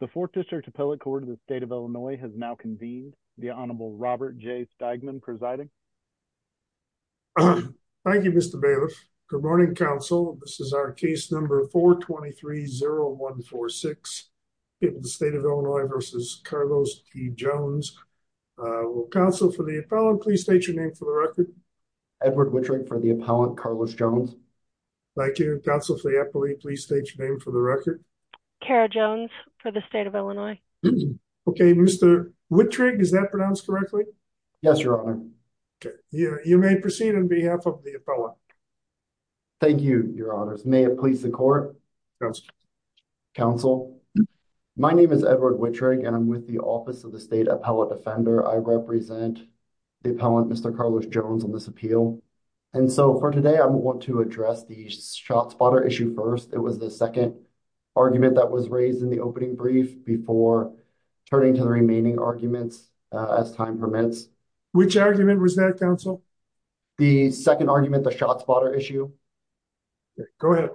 The Fourth District Appellate Court of the State of Illinois has now convened. The Honorable Robert J. Steigman presiding. Thank you, Mr. Bailiff. Good morning, counsel. This is our case number 423-0146, the State of Illinois v. Carlos T. Jones. Will counsel for the appellant please state your name for the record? Edward Wittring for the appellant, Carlos Jones. Thank you. Will counsel for the appellant please state your name for the record? Kara Jones for the State of Illinois. Okay, Mr. Wittring, is that pronounced correctly? Yes, Your Honor. You may proceed on behalf of the appellant. Thank you, Your Honors. May it please the court? Counsel. Counsel. My name is Edward Wittring and I'm with the Office of the State Appellant Defender. I represent the appellant, Mr. Carlos Jones, on this appeal. And so for today, I want to address the shot spotter issue first. It was the second argument that was raised in the opening brief before turning to the remaining arguments as time permits. Which argument was that, counsel? The second argument, the shot spotter issue. Go ahead.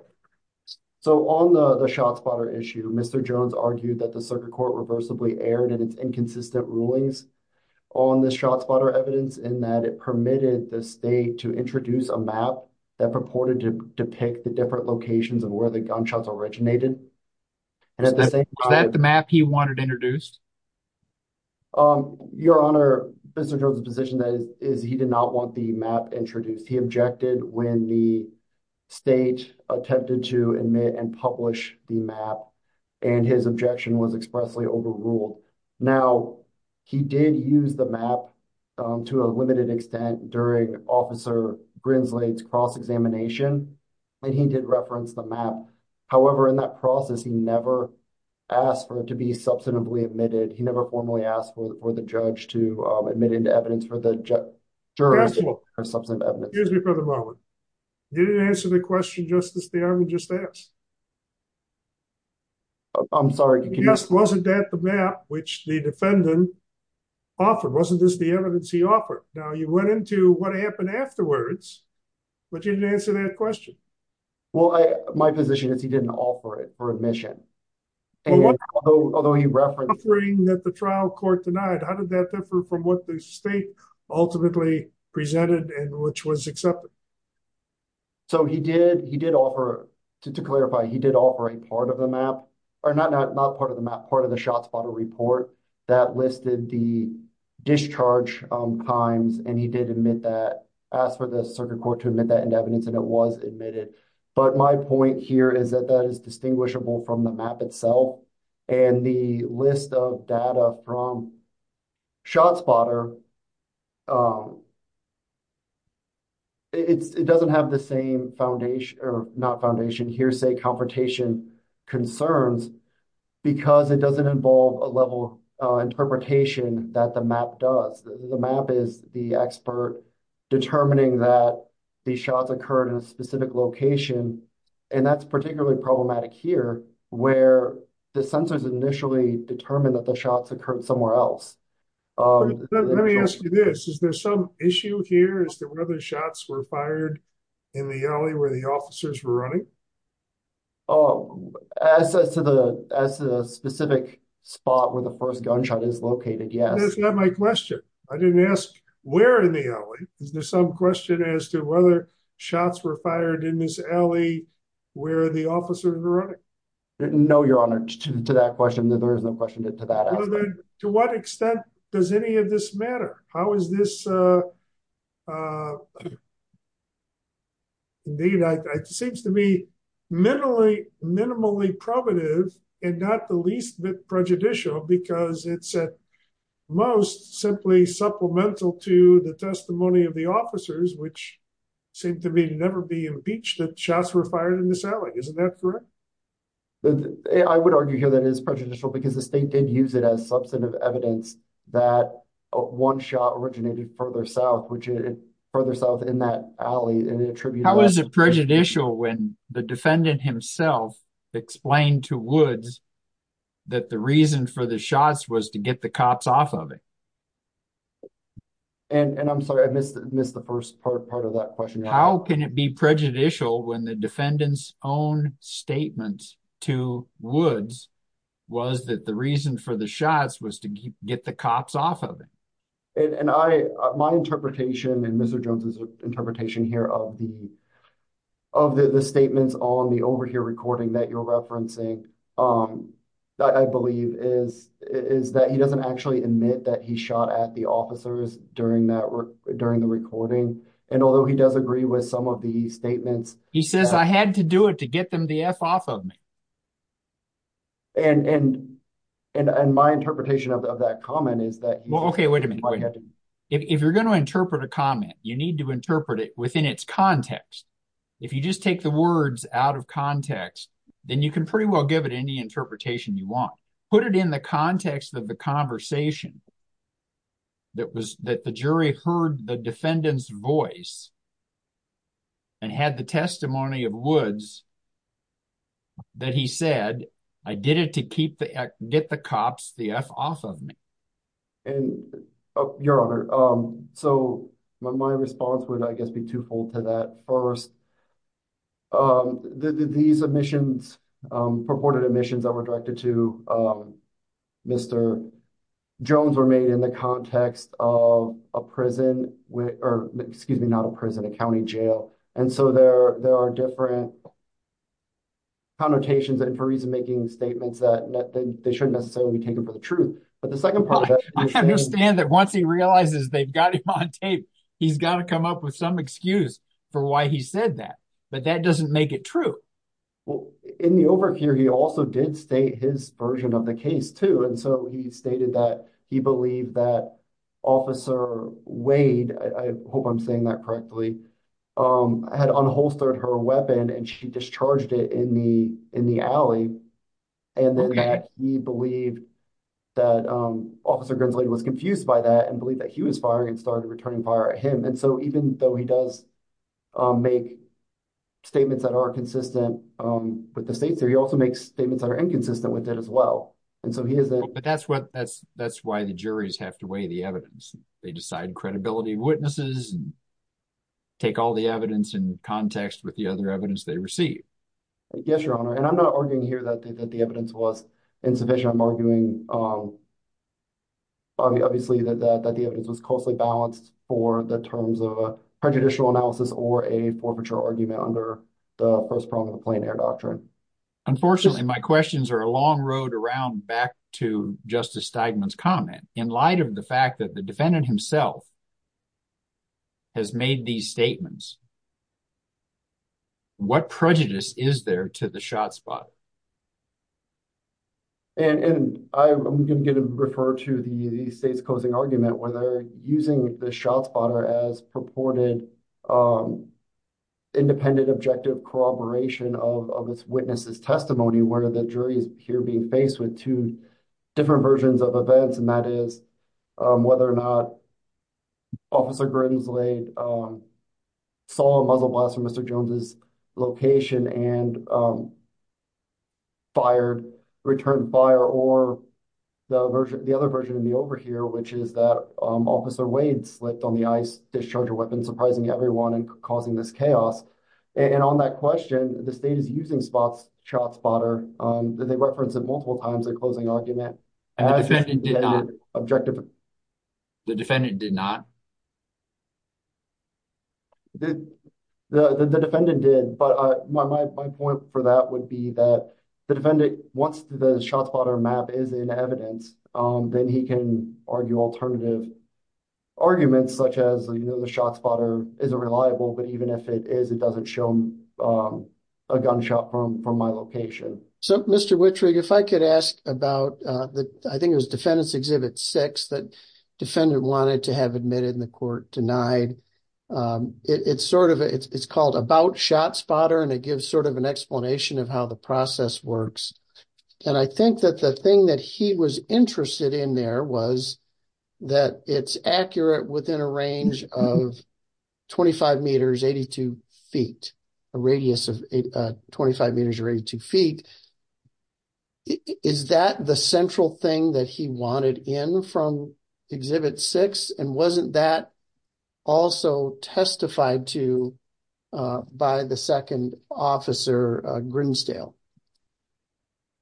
So on the shot spotter issue, Mr. Jones argued that the circuit court reversibly erred in its inconsistent rulings on the shot spotter evidence in that it permitted the state to introduce a map that purported to depict the different locations of where the gunshots originated. Is that the map he wanted introduced? Your Honor, Mr. Jones' position is he did not want the map introduced. He objected when the state attempted to admit and publish the map and his objection was expressly overruled. Now, he did use the map to a limited extent during Officer Grinsley's cross-examination and he did reference the map. However, in that process, he never asked for it to be substantively admitted. He never formally asked for the judge to admit evidence for the jury to get substantive evidence. Excuse me for the moment. You didn't answer the question, Justice, that I would just ask. I'm sorry. Yes. Wasn't that the map which the defendant offered? Wasn't this the evidence he offered? Now, you went into what happened afterwards, but you didn't answer that question. My position is he didn't offer it for admission, although he referenced it. Although he referenced offering that the trial court denied, how did that differ from what the state ultimately presented and which was accepted? So, he did offer, to clarify, he did offer a part of the map, or not part of the map, part of the ShotSpotter report that listed the discharge times and he did admit that, asked for the circuit court to admit that into evidence and it was admitted. But my point here is that that is distinguishable from the map itself and the list of data from the trial. It doesn't have the same foundation, or not foundation, hearsay, confrontation, concerns because it doesn't involve a level of interpretation that the map does. The map is the expert determining that the shots occurred in a specific location and that's particularly problematic here where the censors initially determine that the shots occurred somewhere else. Let me ask you this, is there some issue here as to whether shots were fired in the alley where the officers were running? As to the specific spot where the first gunshot is located, yes. That's not my question. I didn't ask where in the alley. Is there some question as to whether shots were fired in this alley where the officers were running? No, your honor, to that question, there is no question to that aspect. To what extent does any of this matter? How is this, it seems to me, minimally probative and not the least bit prejudicial because it's at most simply supplemental to the testimony of the officers, which seem to me to never be impeached that shots were fired in this alley, isn't that correct? I would argue here that it is prejudicial because the state did use it as substantive evidence that one shot originated further south, which is further south in that alley. How is it prejudicial when the defendant himself explained to Woods that the reason for the shots was to get the cops off of him? And I'm sorry, I missed the first part of that question. How can it be prejudicial when the defendant's own statements to Woods was that the reason for the shots was to get the cops off of him? And my interpretation and Mr. Jones's interpretation here of the statements on the overhear recording that you're referencing, I believe is that he doesn't actually admit that he shot at the officers during the recording. And although he does agree with some of the statements, he says, I had to do it to get them the F off of me. And and and my interpretation of that comment is that, well, OK, wait a minute, if you're going to interpret a comment, you need to interpret it within its context. If you just take the words out of context, then you can pretty well give it any interpretation you want, put it in the context of the conversation. That was that the jury heard the defendant's voice. And had the testimony of Woods. That he said, I did it to keep the get the cops the F off of me. And your honor. So my response would, I guess, be twofold to that first. These admissions purported admissions that were directed to Mr. Jones were made in the context of a prison or excuse me, not a prison, a county jail. And so there there are different. Connotations and for reason, making statements that they shouldn't necessarily be taken for the truth, but the second part of that, I understand that once he realizes they've got him on tape, he's got to come up with some excuse for why he said that. But that doesn't make it true. Well, in the over here, he also did state his version of the case, too. And so he stated that he believed that Officer Wade, I hope I'm saying that correctly, had unholstered her weapon and she discharged it in the in the alley. And then he believed that Officer Grinsley was confused by that and believe that he was firing and started returning fire at him. And so even though he does make statements that are consistent with the state there, he also makes statements that are inconsistent with it as well. And so he is. But that's what that's that's why the juries have to weigh the evidence. They decide credibility witnesses and. Take all the evidence in context with the other evidence they receive, I guess, your honor, and I'm not arguing here that the evidence was insufficient, I'm arguing. Obviously, that the evidence was closely balanced for the terms of a prejudicial analysis or a forfeiture argument under the first prong of the plein air doctrine. Unfortunately, my questions are a long road around back to Justice Steigman's comment in light of the fact that the defendant himself. Has made these statements. What prejudice is there to the shot spot? And I'm going to refer to the state's closing argument where they're using the shot spotter as purported independent objective corroboration of this witness's testimony, where the jury is here being faced with two different versions of events, and that is whether or not. Officer Grimsley saw a muzzle blast from Mr. Jones's location and. Fired, returned fire or the other version of the overhear, which is that Officer Wade slipped on the ice, discharged a weapon, surprising everyone and causing this chaos. And on that question, the state is using spots shot spotter that they referenced it multiple times. The closing argument. And the defendant did not objective. The defendant did not. The defendant did, but my point for that would be that the defendant, once the shot spotter map is in evidence, then he can argue alternative. Arguments such as the shot spotter isn't reliable, but even if it is, it doesn't show a gunshot from from my location. So, Mr. Wittrig, if I could ask about that, I think it was defendants exhibit six that defendant wanted to have admitted in the court denied. It's sort of it's called about shot spotter and it gives sort of an explanation of how the process works. And I think that the thing that he was interested in there was that it's accurate within a range of twenty five meters, eighty two feet, a radius of twenty five meters or eighty two feet. Is that the central thing that he wanted in from exhibit six? And wasn't that also testified to by the second officer Grinsdale?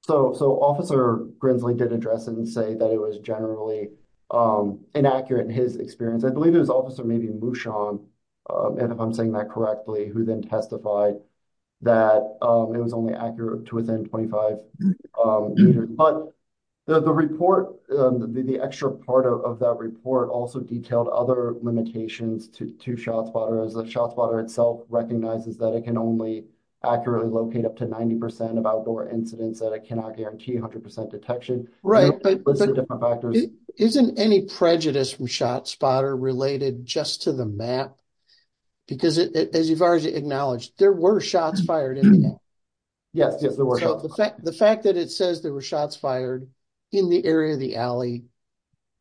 So so officer Grinsdale did address and say that it was generally inaccurate in his experience, I believe it was officer maybe Mushan. And if I'm saying that correctly, who then testified that it was only accurate to within twenty five. But the report, the extra part of that report also detailed other limitations to two shot spotters. The shot spotter itself recognizes that it can only accurately locate up to 90 percent of door incidents that I cannot guarantee 100 percent detection. Right. But isn't any prejudice from shot spotter related just to the map? Because as far as you acknowledge, there were shots fired. Yes, the fact that it says there were shots fired in the area of the alley,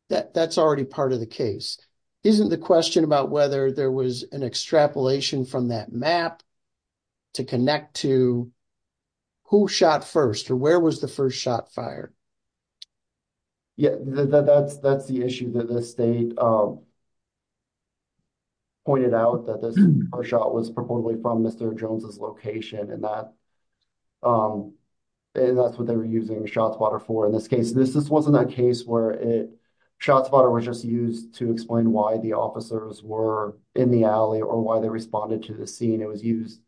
that that's already part of the case. Isn't the question about whether there was an extrapolation from that map to connect to who shot first or where was the first shot fired? Yeah, that's that's the issue that the state. Pointed out that our shot was probably from Mr. Jones's location and that and that's what they were using shots water for in this case, this this wasn't a case where it shots water was just used to explain why the officers were in the alley or why they responded to the scene. It was used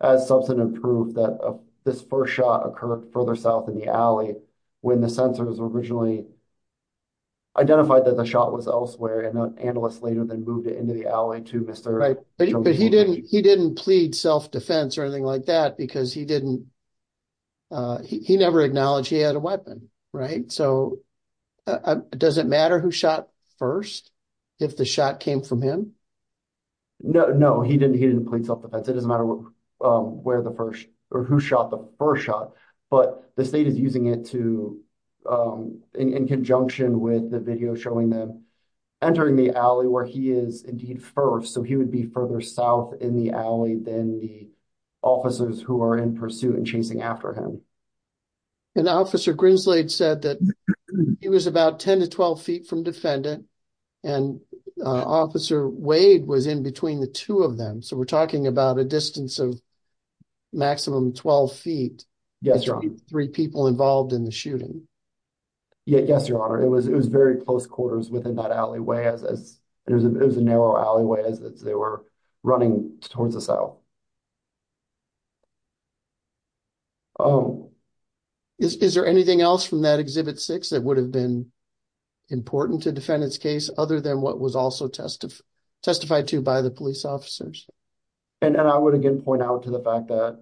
as substantive proof that this first shot occurred further south in the alley when the sensors were originally. Identified that the shot was elsewhere and an analyst later than moved it into the alley to Mr. Right. But he didn't he didn't plead self-defense or anything like that because he didn't. He never acknowledged he had a weapon. Right. So does it matter who shot first if the shot came from him? No, no, he didn't. He didn't plead self-defense. It doesn't matter where the first or who shot the first shot, but the state is using it to in conjunction with the video showing them entering the alley where he is indeed first. So he would be further south in the alley than the officers who are in pursuit and chasing after him. And Officer Grinsley said that he was about 10 to 12 feet from defendant and Officer Wade was in between the two of them. So we're talking about a distance of maximum 12 feet. Yes. Three people involved in the shooting. Yes, your honor, it was it was very close quarters within that alleyway as it was a narrow alleyway as they were running towards the cell. Oh, is there anything else from that exhibit six that would have been important to defend this case other than what was also testified to by the police officers? And I would again point out to the fact that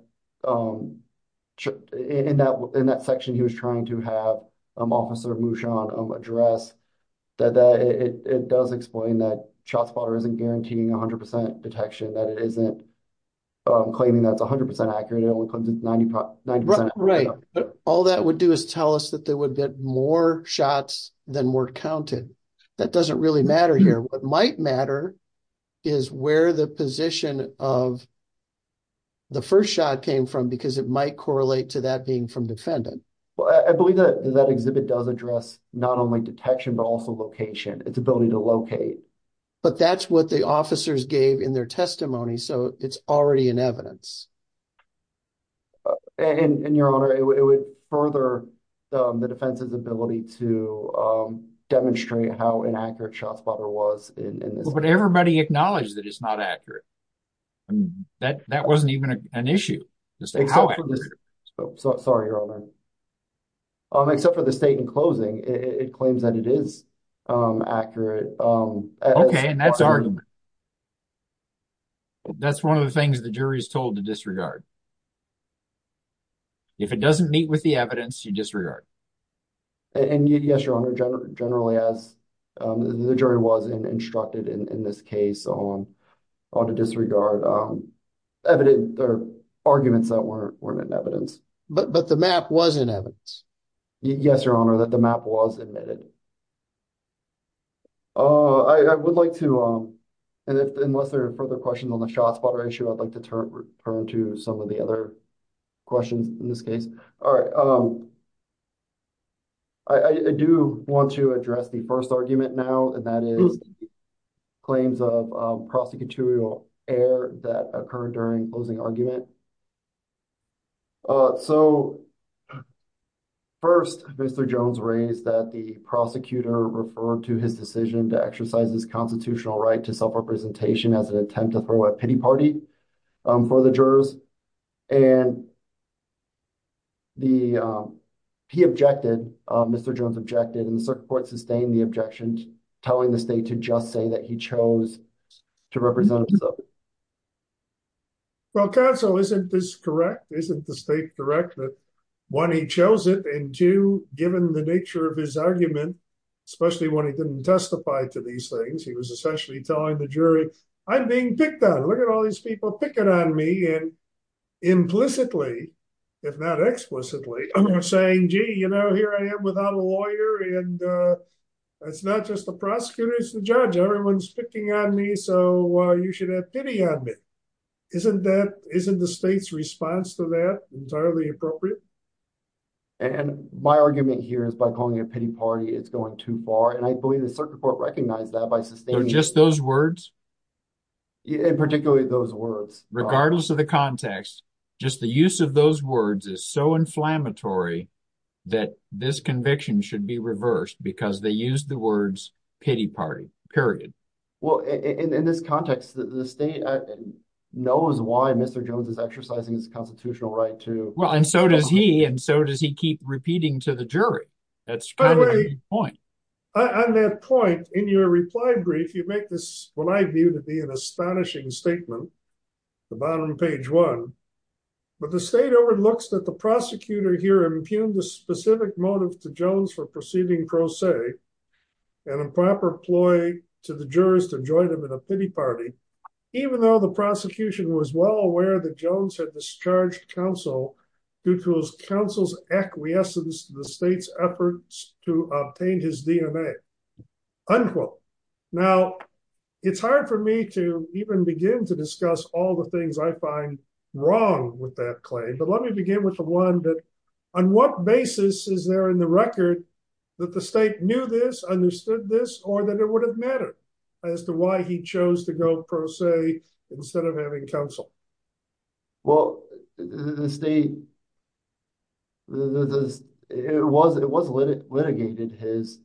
in that in that section, he was trying to have Officer Mushan address that it does explain that shot spotter isn't guaranteeing 100 percent detection, that it isn't claiming that's 100 percent accurate. It only comes in 90 percent. Right. All that would do is tell us that they would get more shots than were counted. That doesn't really matter here. What might matter is where the position of. The first shot came from, because it might correlate to that being from defendant. Well, I believe that that exhibit does address not only detection, but also location, its ability to locate. But that's what the officers gave in their testimony. So it's already in evidence. And your honor, it would further the defense's ability to demonstrate how inaccurate shot spotter was in this. But everybody acknowledged that it's not accurate. And that that wasn't even an issue. So sorry, your honor. Except for the state in closing, it claims that it is accurate. OK, and that's our. That's one of the things the jury is told to disregard. If it doesn't meet with the evidence, you disregard. And yes, your honor, generally, as the jury was instructed in this case on to disregard evidence or arguments that weren't in evidence, but the map was in evidence. Yes, your honor, that the map was admitted. Oh, I would like to, unless there are further questions on the shot spotter issue, I'd like to turn to some of the other questions in this case. All right. I do want to address the first argument now, and that is claims of prosecutorial error that occurred during closing argument. All right, so first, Mr. Jones raised that the prosecutor referred to his decision to exercise his constitutional right to self-representation as an attempt to throw a pity party for the jurors and. The he objected, Mr. Jones objected, and the circuit court sustained the objections, telling the state to just say that he chose to represent himself. Well, counsel, isn't this correct, isn't the state direct that one, he chose it and two, given the nature of his argument, especially when he didn't testify to these things, he was essentially telling the jury I'm being picked on. Look at all these people picking on me and implicitly, if not explicitly, saying, gee, you know, here I am without a lawyer. And it's not just the prosecutors and judge. Everyone's picking on me. So you should have pity on me, isn't that isn't the state's response to that entirely appropriate? And my argument here is by calling it a pity party, it's going too far. And I believe the circuit court recognized that by just those words. In particular, those words, regardless of the context, just the use of those words is so inflammatory that this conviction should be reversed because they use the words pity party, period. Well, in this context, the state knows why Mr. Jones is exercising his constitutional right to. Well, and so does he. And so does he keep repeating to the jury. That's kind of the point. On that point, in your reply brief, you make this what I view to be an astonishing statement, the bottom of page one. But the state overlooks that the prosecutor here impugned a specific motive to Jones for employ to the jurors to join him in a pity party, even though the prosecution was well aware that Jones had discharged counsel due to his counsel's acquiescence, the state's efforts to obtain his DNA. Unquote. Now, it's hard for me to even begin to discuss all the things I find wrong with that claim. But let me begin with the one that on what basis is there in the record that the state knew this, understood this, or that it would have mattered as to why he chose to go pro se instead of having counsel? Well, the state. The it was it was litigated his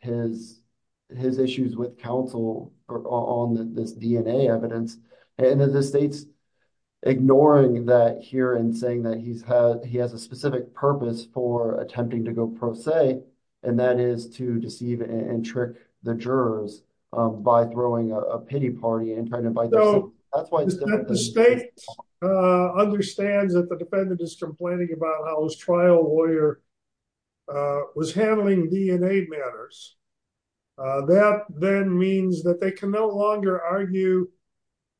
his his issues with counsel on this DNA evidence and the state's ignoring that here and saying that he's had he has a specific purpose for attempting to go pro se, and that is to deceive and trick the jurors by throwing a pity party and trying to bite. So that's why the state understands that the defendant is complaining about how his trial lawyer was handling DNA matters. That then means that they can no longer argue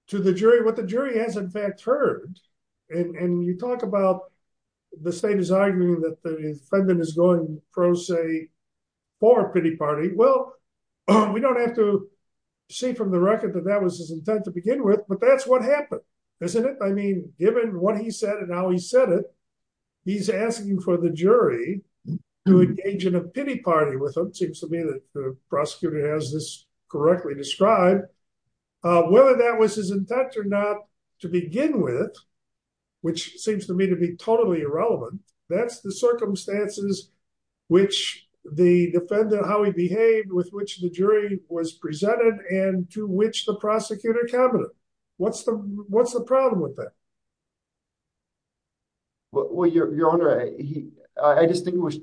to the jury what the jury has, in fact, heard. And you talk about the state is arguing that the defendant is going pro se for pity party. Well, we don't have to see from the record that that was his intent to begin with. But that's what happened, isn't it? I mean, given what he said and how he said it, he's asking for the jury to engage in a pity party with him. Seems to me that the prosecutor has this correctly described whether that was his intent or not to begin with, which seems to me to be totally irrelevant. That's the circumstances which the defendant, how he behaved, with which the jury was presented and to which the prosecutor cabinet. What's the what's the problem with that? Well, your honor, I distinguish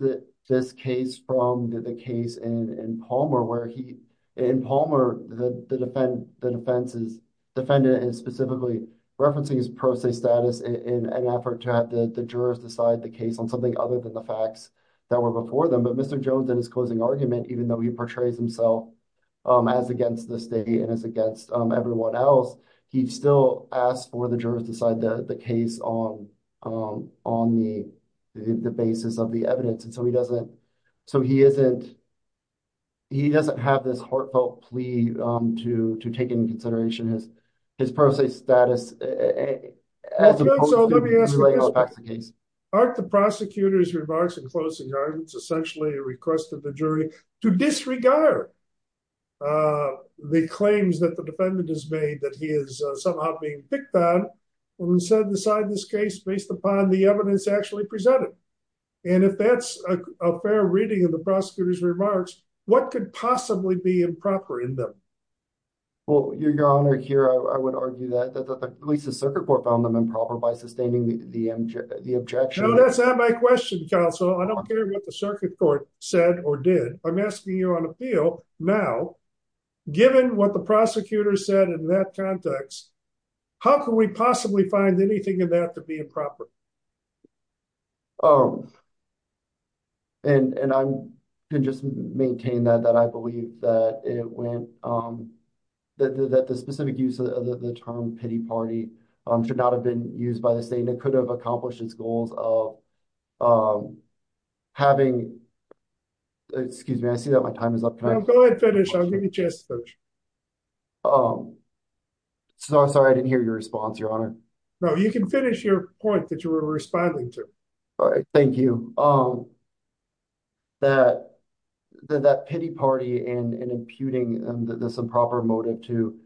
this case from the case in Palmer where he in Palmer, the defense's defendant is specifically referencing his pro se status in an effort to have the jurors decide the case on something other than the facts that were before them. But Mr. Jones, in his closing argument, even though he portrays himself as against the state and as against everyone else, he still asked for the jurors decide the case on on the basis of the evidence. And so he doesn't. So he isn't. He doesn't have this heartfelt plea to to take into consideration his his pro se status as opposed to delaying the case. Aren't the prosecutor's remarks in closing arguments essentially a request of the jury to disregard the claims that the defendant has made that he is somehow being picked on and said, decide this case based upon the evidence actually presented. And if that's a fair reading of the prosecutor's remarks, what could possibly be improper in them? Well, your honor, here, I would argue that at least the circuit court found them improper by sustaining the MJ, the objection. That's not my question, counsel. I don't care what the circuit court said or did. I'm asking you on appeal now, given what the prosecutor said in that context, how can we possibly find anything in that to be improper? Oh. And I can just maintain that, that I believe that it went that the specific use of the term pity party should not have been used by the state and it could have accomplished its goals of having. Excuse me, I see that my time is up. Can I go ahead and finish? I'll give you a chance to finish. So I'm sorry, I didn't hear your response, your honor. No, you can finish your point that you were responding to. All right. Thank you. That that pity party and imputing this improper motive to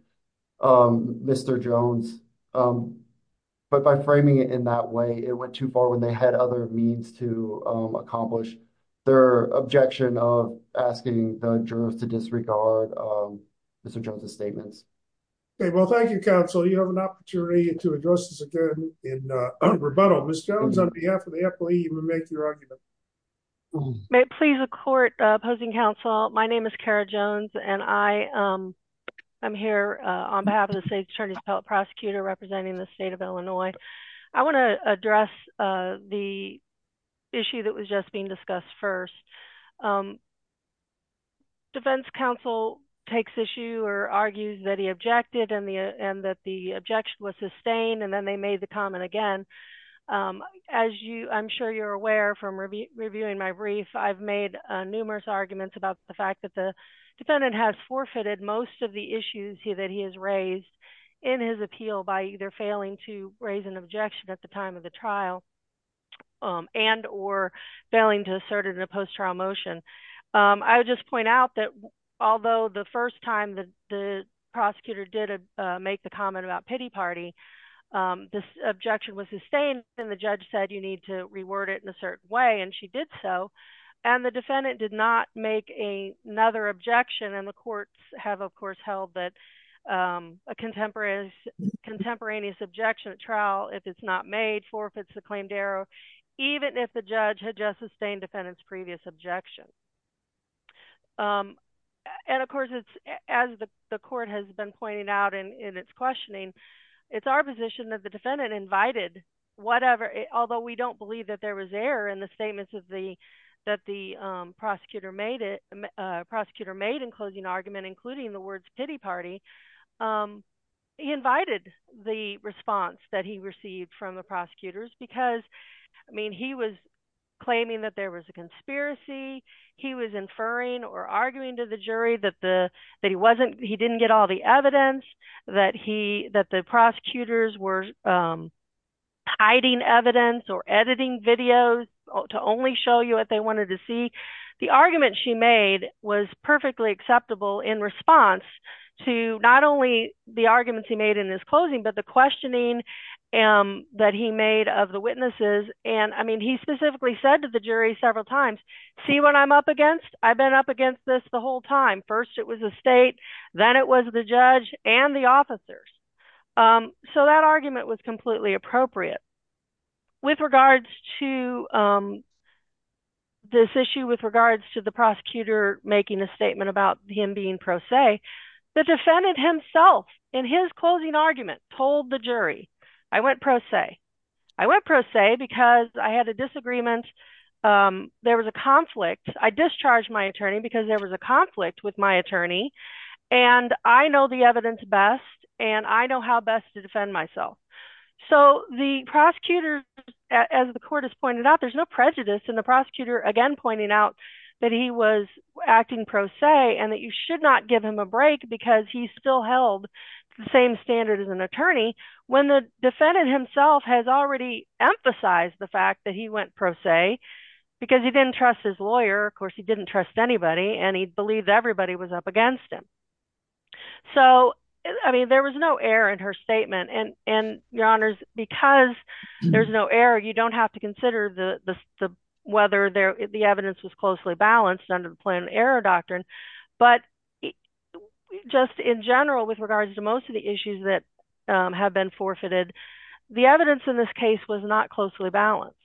Mr. Jones, but by framing it in that way, it went too far when they had other means to accomplish their objection of asking the jurors to disregard Mr. Jones's statements. Well, thank you, counsel. You have an opportunity to address this again in rebuttal. Ms. Jones, on behalf of the employee, you may make your argument. May it please the court opposing counsel. My name is Kara Jones and I am here on behalf of the state attorney's prosecutor representing the state of Illinois. I want to address the issue that was just being discussed first. Um. Defense counsel takes issue or argues that he objected and the and that the objection was sustained and then they made the comment again, as you I'm sure you're aware from reviewing my brief, I've made numerous arguments about the fact that the defendant has forfeited most of the issues that he has raised in his appeal by either failing to raise an objection at the time of the trial and or failing to assert it in a post-trial motion. I would just point out that although the first time that the prosecutor did make the comment about pity party, this objection was sustained and the judge said you need to reword it in a certain way. And she did so. And the defendant did not make a another objection. And the courts have, of course, held that a contemporaneous contemporaneous objection at trial, if it's not made forfeits the claimed error, even if the justice sustained defendant's previous objection. And, of course, it's as the court has been pointing out in its questioning, it's our position that the defendant invited whatever, although we don't believe that there was error in the statements of the that the prosecutor made it prosecutor made in closing argument, including the words pity party. He invited the response that he received from the prosecutors because, I mean, he was claiming that there was a conspiracy. He was inferring or arguing to the jury that the that he wasn't he didn't get all the evidence that he that the prosecutors were hiding evidence or editing videos to only show you what they wanted to see. The argument she made was perfectly acceptable in response to not only the arguments he made in his closing, but the questioning that he made of the witnesses. And, I mean, he specifically said to the jury several times, see what I'm up against. I've been up against this the whole time. First, it was the state. Then it was the judge and the officers. So that argument was completely appropriate. With regards to this issue, with regards to the prosecutor making a statement about him being pro se, the defendant himself in his closing argument told the jury, I went pro se. I went pro se because I had a disagreement. There was a conflict. I discharged my attorney because there was a conflict with my attorney. And I know the evidence best and I know how best to defend myself. So the prosecutor, as the court has pointed out, there's no prejudice. And the prosecutor, again, pointing out that he was acting pro se and that you should not give him a break because he still held the same standard as an attorney. When the defendant himself has already emphasized the fact that he went pro se because he didn't trust his lawyer. Of course, he didn't trust anybody and he believed everybody was up against him. So, I mean, there was no error in her statement and and your honors, because there's no error, you don't have to consider the whether the evidence was closely balanced under the plan error doctrine. But just in general, with regards to most of the issues that have been forfeited, the evidence in this case was not closely balanced.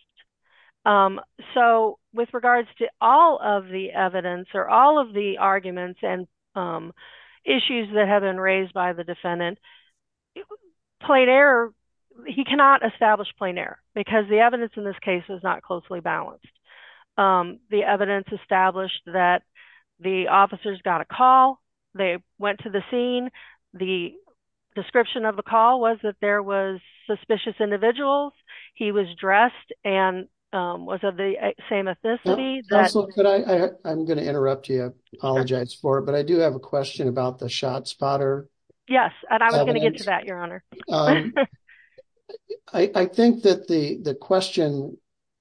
So with regards to all of the evidence or all of the arguments and issues that have been raised by the defendant, plain error, he cannot establish plain error because the evidence in this case is not closely balanced. The evidence established that the officers got a call, they went to the scene, the description of the call was that there was suspicious individuals. He was dressed and was of the same ethnicity. I'm going to interrupt you, apologize for it, but I do have a question about the shot spotter. Yes. And I was going to get to that, your honor. I think that the the question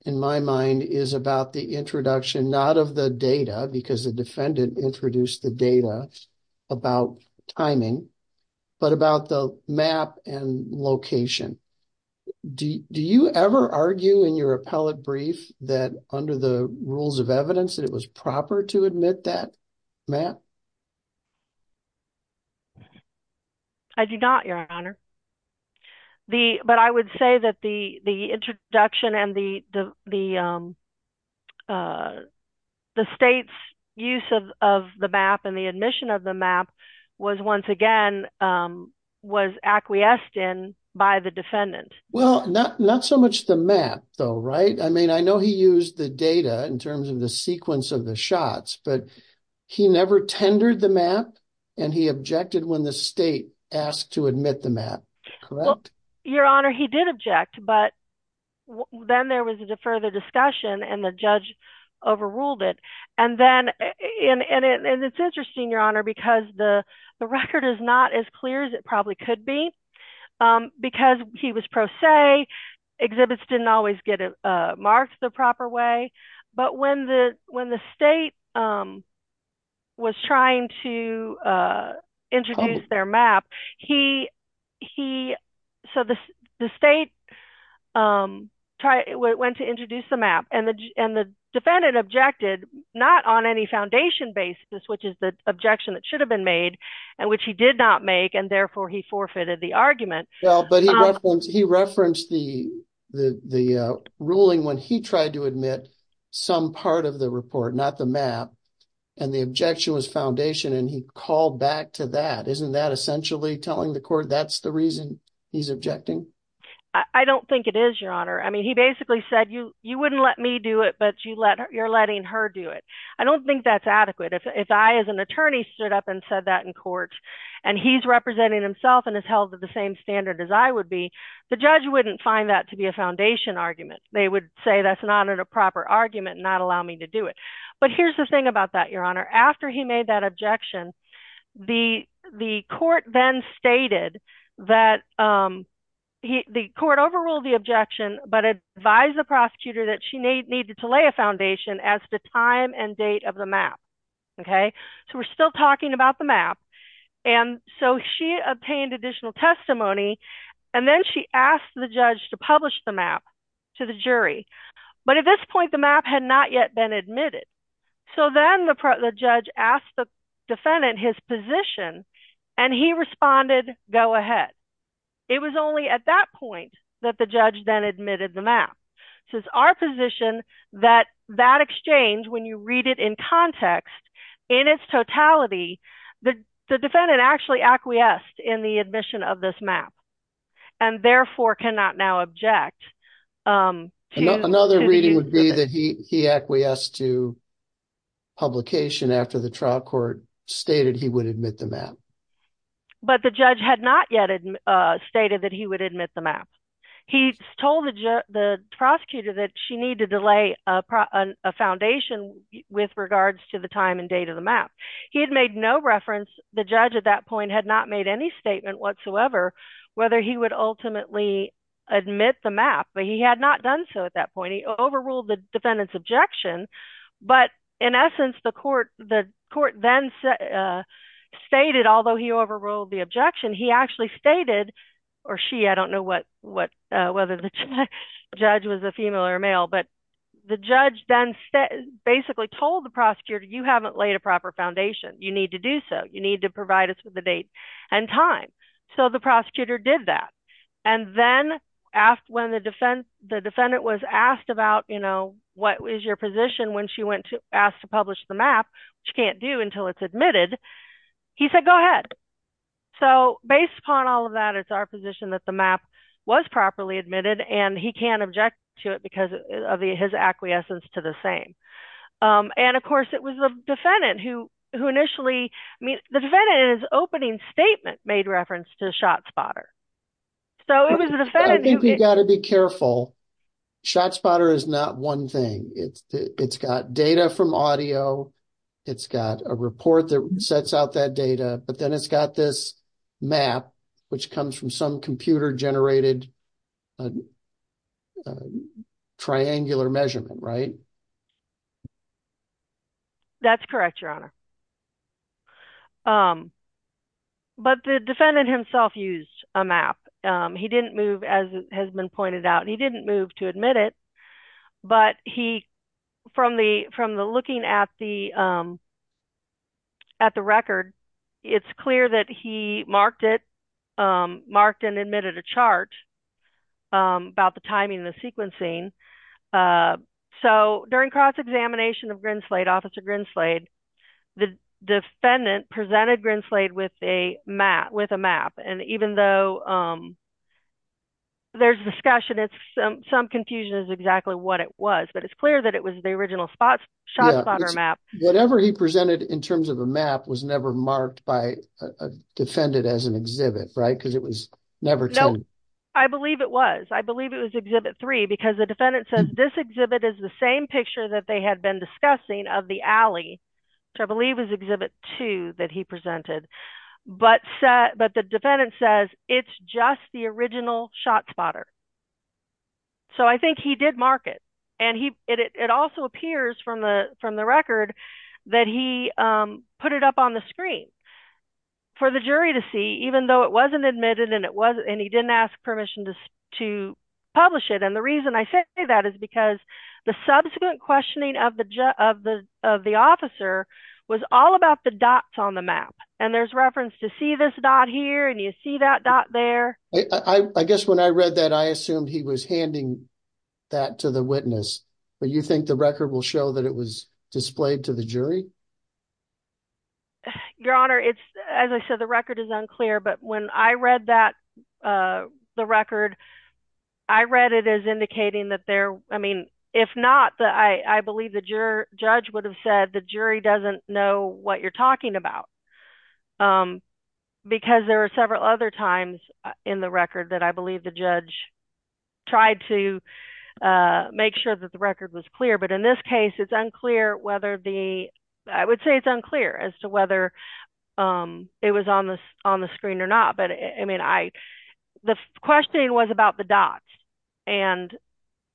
in my mind is about the introduction, not of the data because the defendant introduced the data about timing, but about the map and location. Do you ever argue in your appellate brief that under the rules of evidence that it was proper to admit that map? I do not, your honor. The but I would say that the the introduction and the the the state's use of the map and the admission of the map was once again was acquiesced in by the defendant. Well, not not so much the map, though. Right. I mean, I know he used the data in terms of the sequence of the shots, but he never tendered the map and he objected when the state asked to admit the map. Your honor, he did object, but then there was a further discussion and the judge overruled it. And then and it's interesting, your honor, because the the record is not as clear as it probably could be because he was pro se. Exhibits didn't always get it marked the proper way. But when the when the state was trying to introduce their map, he he said the state tried it, went to introduce the map and the and the defendant objected not on any foundation basis, which is the objection that should have been made and which he did not make. And therefore he forfeited the argument. Well, but he referenced he referenced the the the ruling when he tried to admit some part of the report, not the map. And the objection was foundation. And he called back to that. Isn't that essentially telling the court that's the reason he's objecting? I don't think it is, your honor. I mean, he basically said you you wouldn't let me do it, but you let you're letting her do it. I don't think that's adequate. If I as an attorney stood up and said that in court and he's representing himself and is held to the same standard as I would be, the judge wouldn't find that to be a foundation argument. They would say that's not a proper argument, not allow me to do it. But here's the thing about that, your honor. After he made that objection, the the court then stated that the court overruled the objection, but advised the prosecutor that she needed to lay a foundation as the time and date of the map. OK, so we're still talking about the map. And so she obtained additional testimony and then she asked the judge to publish the map to the jury. But at this point, the map had not yet been admitted. So then the judge asked the defendant his position and he responded, go ahead. It was only at that point that the judge then admitted the map. So it's our position that that exchange, when you read it in context, in its totality, the defendant actually acquiesced in the admission of this map and therefore cannot now object. Another reading would be that he he acquiesced to. Publication after the trial court stated he would admit the map, but the judge had not yet stated that he would admit the map, he told the the prosecutor that she needed to lay a foundation with regards to the time and date of the map. He had made no reference. The judge at that point had not made any statement whatsoever whether he would ultimately admit the map. But he had not done so at that point. He overruled the defendant's objection. But in essence, the court, the court then stated, although he overruled the objection, he actually stated or she, I don't know what what whether the judge was a female or a male, he said, you know, you need to lay a foundation, you need to do so, you need to provide us with the date and time. So the prosecutor did that. And then after when the defense, the defendant was asked about, you know, what is your position when she went to ask to publish the map, she can't do until it's admitted, he said, go ahead. So based upon all of that, it's our position that the map was properly admitted. And he can't object to it because of his acquiescence to the same. And of course, it was the defendant who who initially the defendant in his opening statement made reference to ShotSpotter. So it was the defendant. I think you've got to be careful. ShotSpotter is not one thing. It's it's got data from audio. It's got a report that sets out that data. But then it's got this map which comes from some computer generated. Triangular measurement, right? That's correct, your honor. But the defendant himself used a map, he didn't move, as has been pointed out, he didn't move to admit it, but he from the from the looking at the. At the record, it's clear that he marked it, marked and admitted a chart about the timing, the sequencing. So during cross examination of Grinslade, Officer Grinslade, the defendant presented Grinslade with a map with a map. And even though there's discussion, it's some confusion is exactly what it was. But it's clear that it was the original spot ShotSpotter map. Whatever he presented in terms of a map was never marked by a defendant as an exhibit, right? Because it was never. I believe it was. I believe it was exhibit three because the defendant says this exhibit is the same picture that they had been discussing of the alley, which I believe is exhibit two that he presented. But but the defendant says it's just the original ShotSpotter. So I think he did mark it and he it also appears from the from the record that he put it up on the screen for the jury to see, even though it wasn't admitted and it was and he didn't ask permission to to publish it. And the reason I say that is because the subsequent questioning of the of the of the officer was all about the dots on the map. And there's reference to see this dot here. And you see that dot there. I guess when I read that, I assumed he was handing that to the witness. But you think the record will show that it was displayed to the jury? Your Honor, it's as I said, the record is unclear, but when I read that the record, I read it as indicating that there I mean, if not, I believe that your judge would have said the jury doesn't know what you're talking about because there are several other times in the record that I believe the judge tried to make sure that the record was clear. But in this case, it's unclear whether the I would say it's unclear as to whether it was on the on the screen or not. But I mean, I the question was about the dots and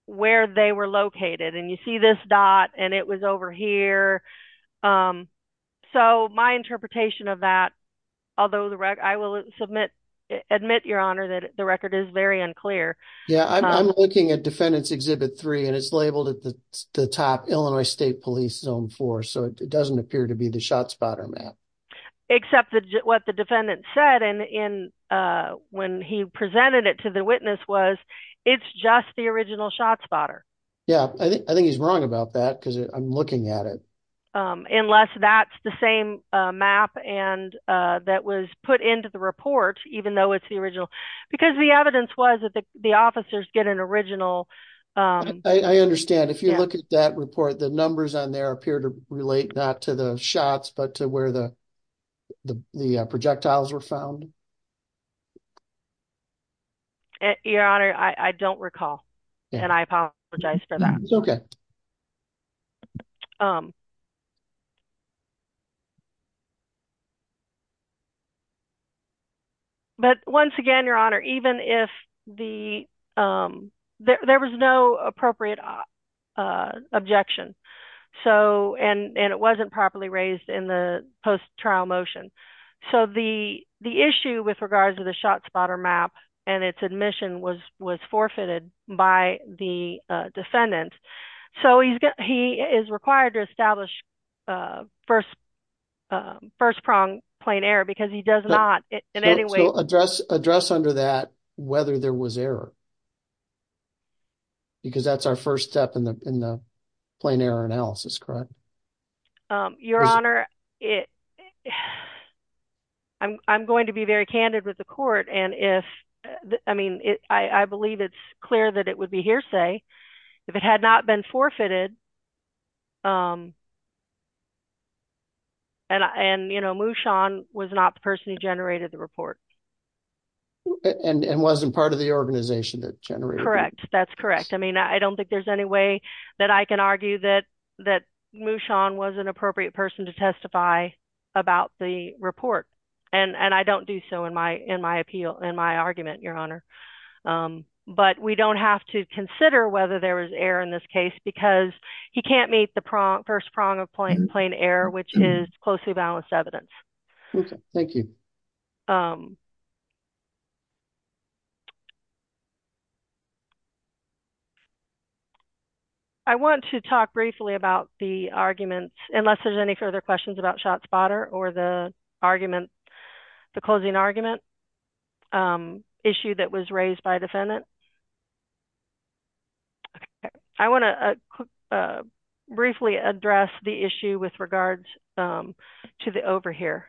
where they were located. And you see this dot and it was over here. So my interpretation of that, although the I will submit admit, your Honor, that the record is very unclear. Yeah, I'm looking at defendants exhibit three and it's labeled at the top Illinois State Police Zone four. So it doesn't appear to be the shot spotter map, except what the defendant said. And when he presented it to the witness was it's just the original shot spotter. Yeah, I think he's wrong about that because I'm looking at it. Unless that's the same map and that was put into the report, even though it's the original, because the evidence was that the officers get an original. I understand if you look at that report, the numbers on there appear to relate not to the shots, but to where the the projectiles were found. Your Honor, I don't recall and I apologize for that. It's OK. But once again, your Honor, even if the there was no appropriate objection, so and it wasn't properly raised in the post trial motion. So the the issue with regards to the shot spotter map and its admission was was defendant. So he's got he is required to establish first first prong plain error because he does not in any way address address under that whether there was error. Because that's our first step in the in the plain error analysis, correct? Your Honor, it I'm going to be very candid with the court and if I mean, I believe it's be hearsay if it had not been forfeited. And, you know, Mushan was not the person who generated the report. And it wasn't part of the organization that generated, correct? That's correct. I mean, I don't think there's any way that I can argue that that Mushan was an appropriate person to testify about the report. And I don't do so in my in my appeal, in my argument, your Honor. But we don't have to consider whether there was error in this case because he can't meet the prompt first prong of point plain error, which is closely balanced evidence. Thank you. I want to talk briefly about the arguments, unless there's any further questions about shot spotter or the argument, the closing argument issue that was raised by defendant. I want to briefly address the issue with regards to the over here.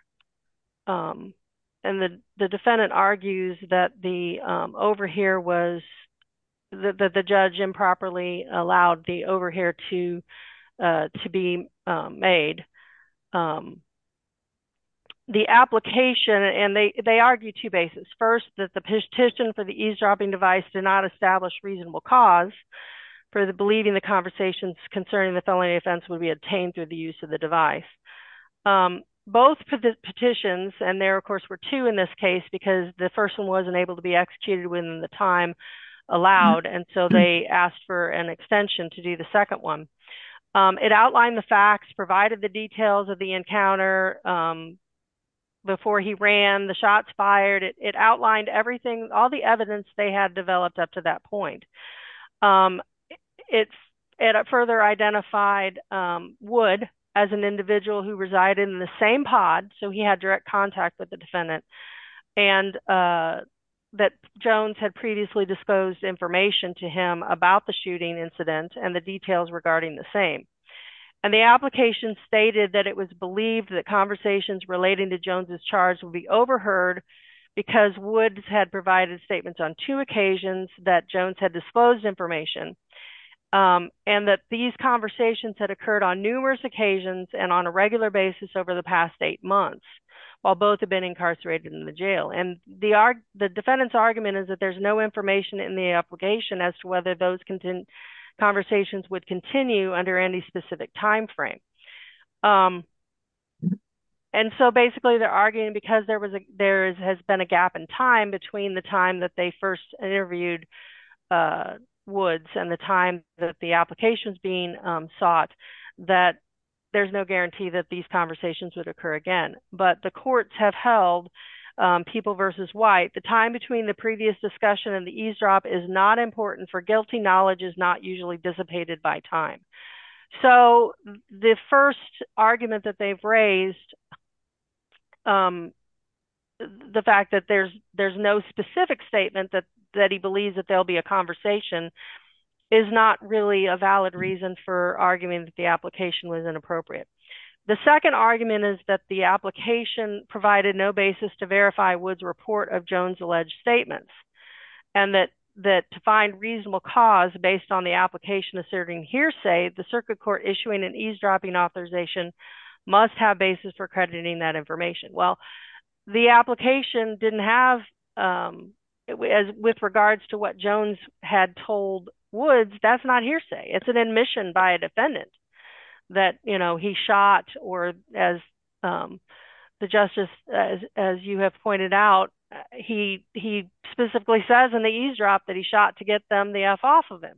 And the defendant argues that the over here was that the judge improperly allowed the made the application. And they argue two bases. First, that the petition for the eavesdropping device did not establish reasonable cause for the believing the conversations concerning the felony offense would be obtained through the use of the device. Both petitions and there, of course, were two in this case because the first one wasn't able to be executed within the time allowed. And so they asked for an extension to do the second one. It outlined the facts, provided the details of the encounter. Before he ran the shots fired, it outlined everything, all the evidence they had developed up to that point. It's at a further identified would as an individual who resided in the same pod. So he had direct contact with the defendant and that Jones had previously disposed information to him about the shooting incident and the details regarding the same. And the application stated that it was believed that conversations relating to Jones's charge will be overheard because Woods had provided statements on two occasions that Jones had disposed information and that these conversations had occurred on numerous occasions and on a regular basis over the past eight months while both have been incarcerated in the jail. And the defendant's argument is that there's no information in the application as to whether those conversations would continue under any specific time frame. And so basically they're arguing because there has been a gap in time between the time that they first interviewed Woods and the time that the application is being sought that there's no guarantee that these conversations would occur again. But the courts have held, People versus White, the time between the previous discussion and the eavesdrop is not important for guilty knowledge is not usually dissipated by time. So the first argument that they've raised, the fact that there's there's no specific statement that that he believes that there'll be a conversation is not really a valid reason for arguing that the application was inappropriate. The second argument is that the application provided no basis to verify Woods report of Jones alleged statements and that that to find reasonable cause based on the application asserting hearsay, the circuit court issuing an eavesdropping authorization must have basis for crediting that information. Well, the application didn't have as with regards to what Jones had told Woods, that's not hearsay. It's an admission by a defendant that, you know, he shot or as the justice, as you have pointed out, he he specifically says in the eavesdrop that he shot to get them the F off of him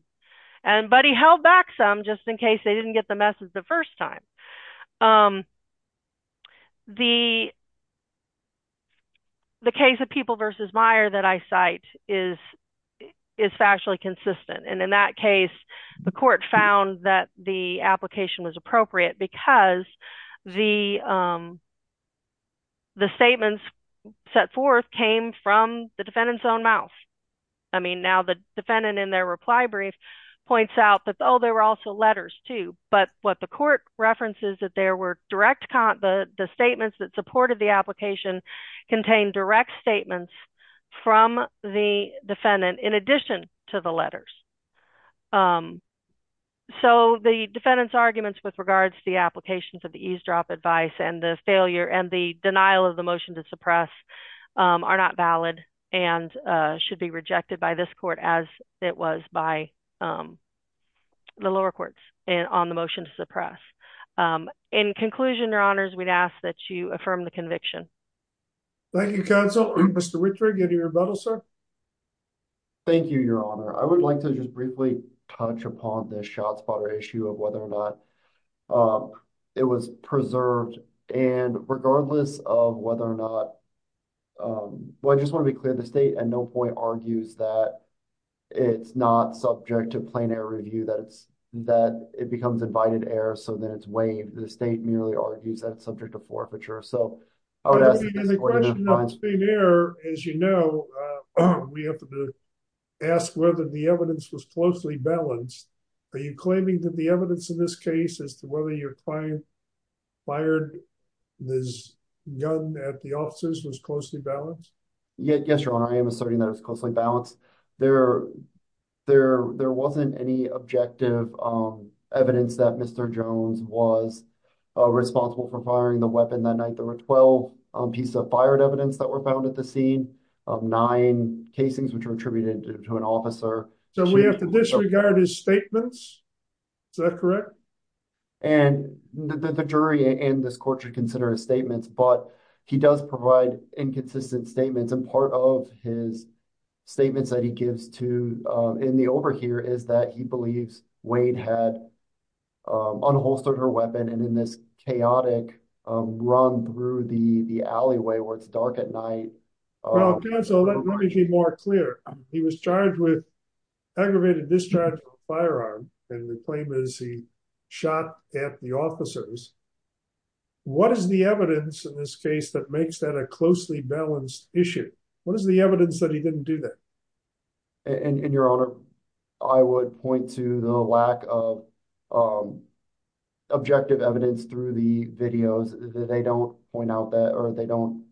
and but he held back some just in case they didn't get the message the first time. The. The case of People versus Meyer that I cite is is factually consistent, and in that case, the court found that the application was appropriate because the. The statements set forth came from the defendant's own mouth, I mean, now the defendant in their reply brief points out that, oh, there were also letters, too, but what the court references that there were direct the statements that supported the application contain direct statements from the defendant in addition to the letters. So the defendant's arguments with regards to the applications of the eavesdrop advice and the failure and the denial of the motion to suppress are not valid and should be rejected by this court, as it was by. The lower courts on the motion to suppress in conclusion, your honors, we'd ask that you thank you, counsel, Mr. Richard, get your medal, sir. Thank you, your honor, I would like to just briefly touch upon the shot spotter issue of whether or not it was preserved and regardless of whether or not. Well, I just want to be clear, the state and no point argues that it's not subject to plain air review, that it's that it becomes invited air so that it's way the state merely argues that it's subject to forfeiture. So I would ask the question of air, as you know, we have to ask whether the evidence was closely balanced. Are you claiming that the evidence in this case as to whether your client fired this gun at the officers was closely balanced? Yes, your honor, I am asserting that it was closely balanced. There there there wasn't any objective evidence that Mr. Jones was responsible for firing the weapon that night. There were 12 pieces of fired evidence that were found at the scene of nine casings, which were attributed to an officer. So we have to disregard his statements. Is that correct? And the jury in this court should consider his statements, but he does provide inconsistent statements. And part of his statements that he gives to in the over here is that he believes Wade had unholstered her weapon. And in this chaotic run through the alleyway where it's dark at night. Well, counsel, let me be more clear. He was charged with aggravated discharge of a firearm and the claim is he shot at the officers. What is the evidence in this case that makes that a closely balanced issue? What is the evidence that he didn't do that? And your honor, I would point to the lack of objective evidence through the videos that they don't point out that or they don't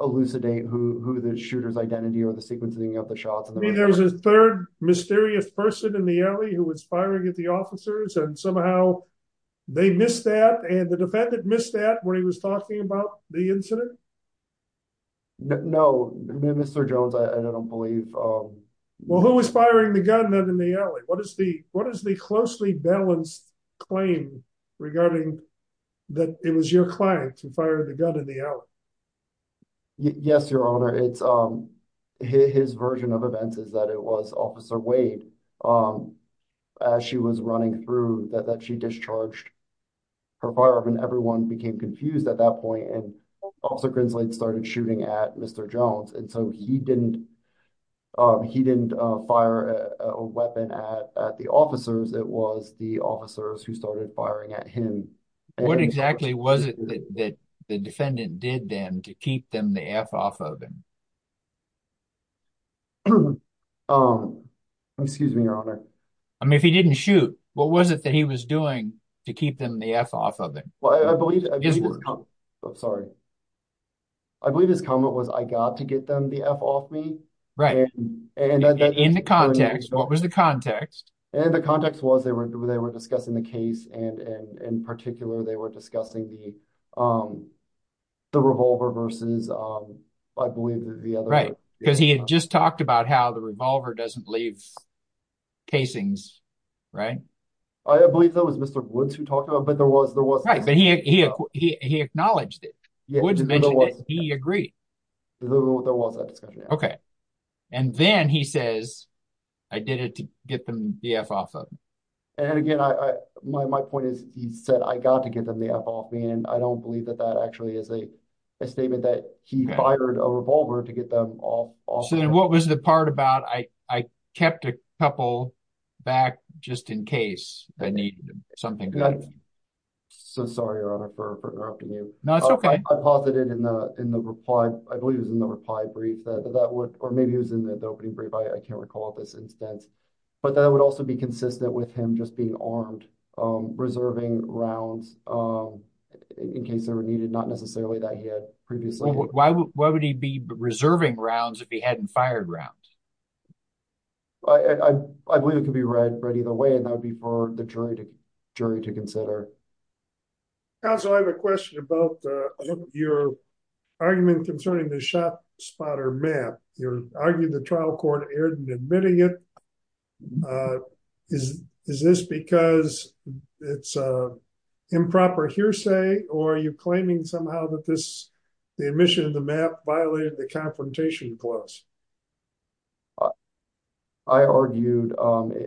elucidate who the shooter's identity or the sequencing of the shots. There was a third mysterious person in the alley who was firing at the officers and somehow they missed that. And the defendant missed that when he was talking about the incident. No, no, Mr. Jones, I don't believe. Well, who was firing the gun in the alley? What is the what is the closely balanced claim regarding that it was your client who fired the gun in the alley? Yes, your honor, it's his version of events is that it was Officer Wade as she was running through that she discharged her firearm and everyone became confused at that point. And also Grinsley started shooting at Mr. Jones. And so he didn't he didn't fire a weapon at the officers. It was the officers who started firing at him. What exactly was it that the defendant did then to keep them the F off of him? Excuse me, your honor. I mean, if he didn't shoot, what was it that he was doing to keep them the F off of him? Well, I believe I'm sorry. I believe his comment was, I got to get them the F off me. Right. And in the context, what was the context? And the context was they were they were discussing the case and in particular, they were discussing the the revolver versus, I believe, the other. Right. Because he had just talked about how the revolver doesn't leave casings. Right. I believe that was Mr. Woods who talked about it, but there was there was he he acknowledged it. He agreed there was a discussion. OK. And then he says, I did it to get them the F off of him. And again, my point is, he said, I got to get them the F off me. And I don't believe that that actually is a statement that he fired a revolver to get them off. So what was the part about? I I kept a couple back just in case I need something. So sorry, your honor, for interrupting you. No, it's OK. I posited in the in the reply. I believe it was in the reply brief that that would or maybe it was in the opening brief. I can't recall this instance, but that would also be consistent with him just being armed, reserving rounds in case they were needed. Not necessarily that he had previously. Why would he be reserving rounds if he hadn't fired rounds? I believe it could be read read either way, and that would be for the jury to jury to consider. Also, I have a question about your argument concerning the shop spotter map. You're arguing the trial court erred in admitting it. Is is this because it's improper hearsay or are you claiming somehow that this the admission of the map violated the confrontation clause? I argued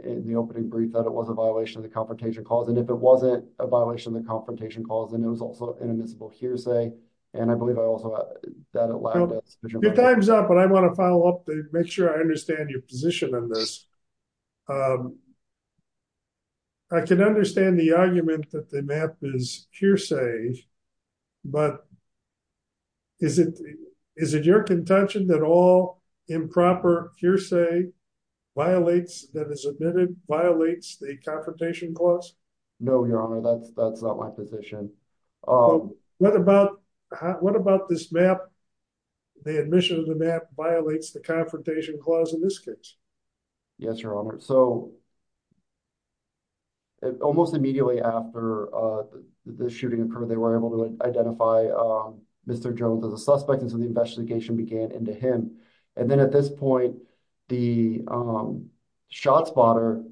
in the opening brief that it was a violation of the confrontation clause, and if it wasn't a violation of the confrontation clause, then it was also inadmissible hearsay. And I believe I also that a lot of times up. But I want to follow up to make sure I understand your position on this. I can understand the argument that the map is hearsay, but. Is it is it your contention that all improper hearsay violates that is admitted, violates the confrontation clause? No, your honor, that's that's not my position. What about what about this map? The admission of the map violates the confrontation clause in this case. Yes, your honor. So. It almost immediately after the shooting occurred, they were able to identify Mr. Jones as a suspect, and so the investigation began into him. And then at this point, the shot spotter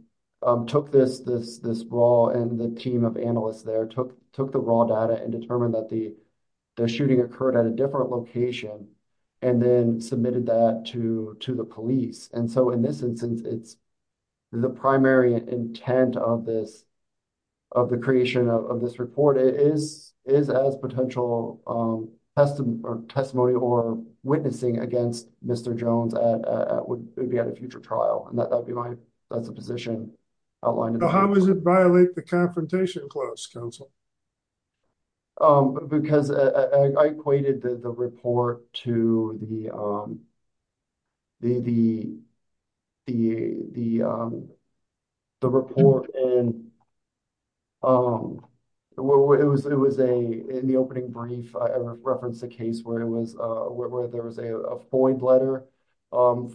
took this this this brawl and the team of analysts there took took the raw data and determined that the the shooting occurred at a different location and then submitted that to to the police. And so in this instance, it's the primary intent of this of the creation of this report is is as potential testimony or testimony or witnessing against Mr. Jones would be at a future trial. And that would be my that's a position outlined. Um, because I equated the report to the. The the the the the report and. Um, it was it was a in the opening brief, I referenced a case where it was where there was a FOIA letter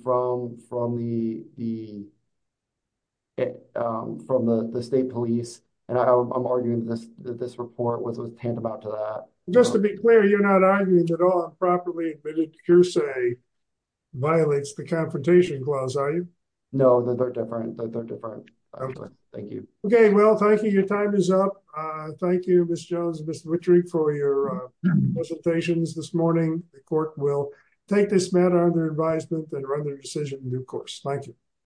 from from the the. It from the state police, and I'm arguing that this report was hand about to that, just to be clear, you're not arguing that all improperly admitted to say violates the confrontation clause, are you? No, they're different. They're different. Thank you. OK, well, thank you. Your time is up. Thank you, Ms. Jones, Mr. Richard, for your presentations this morning. The court will take this matter under advisement and run their decision in due course. Thank you.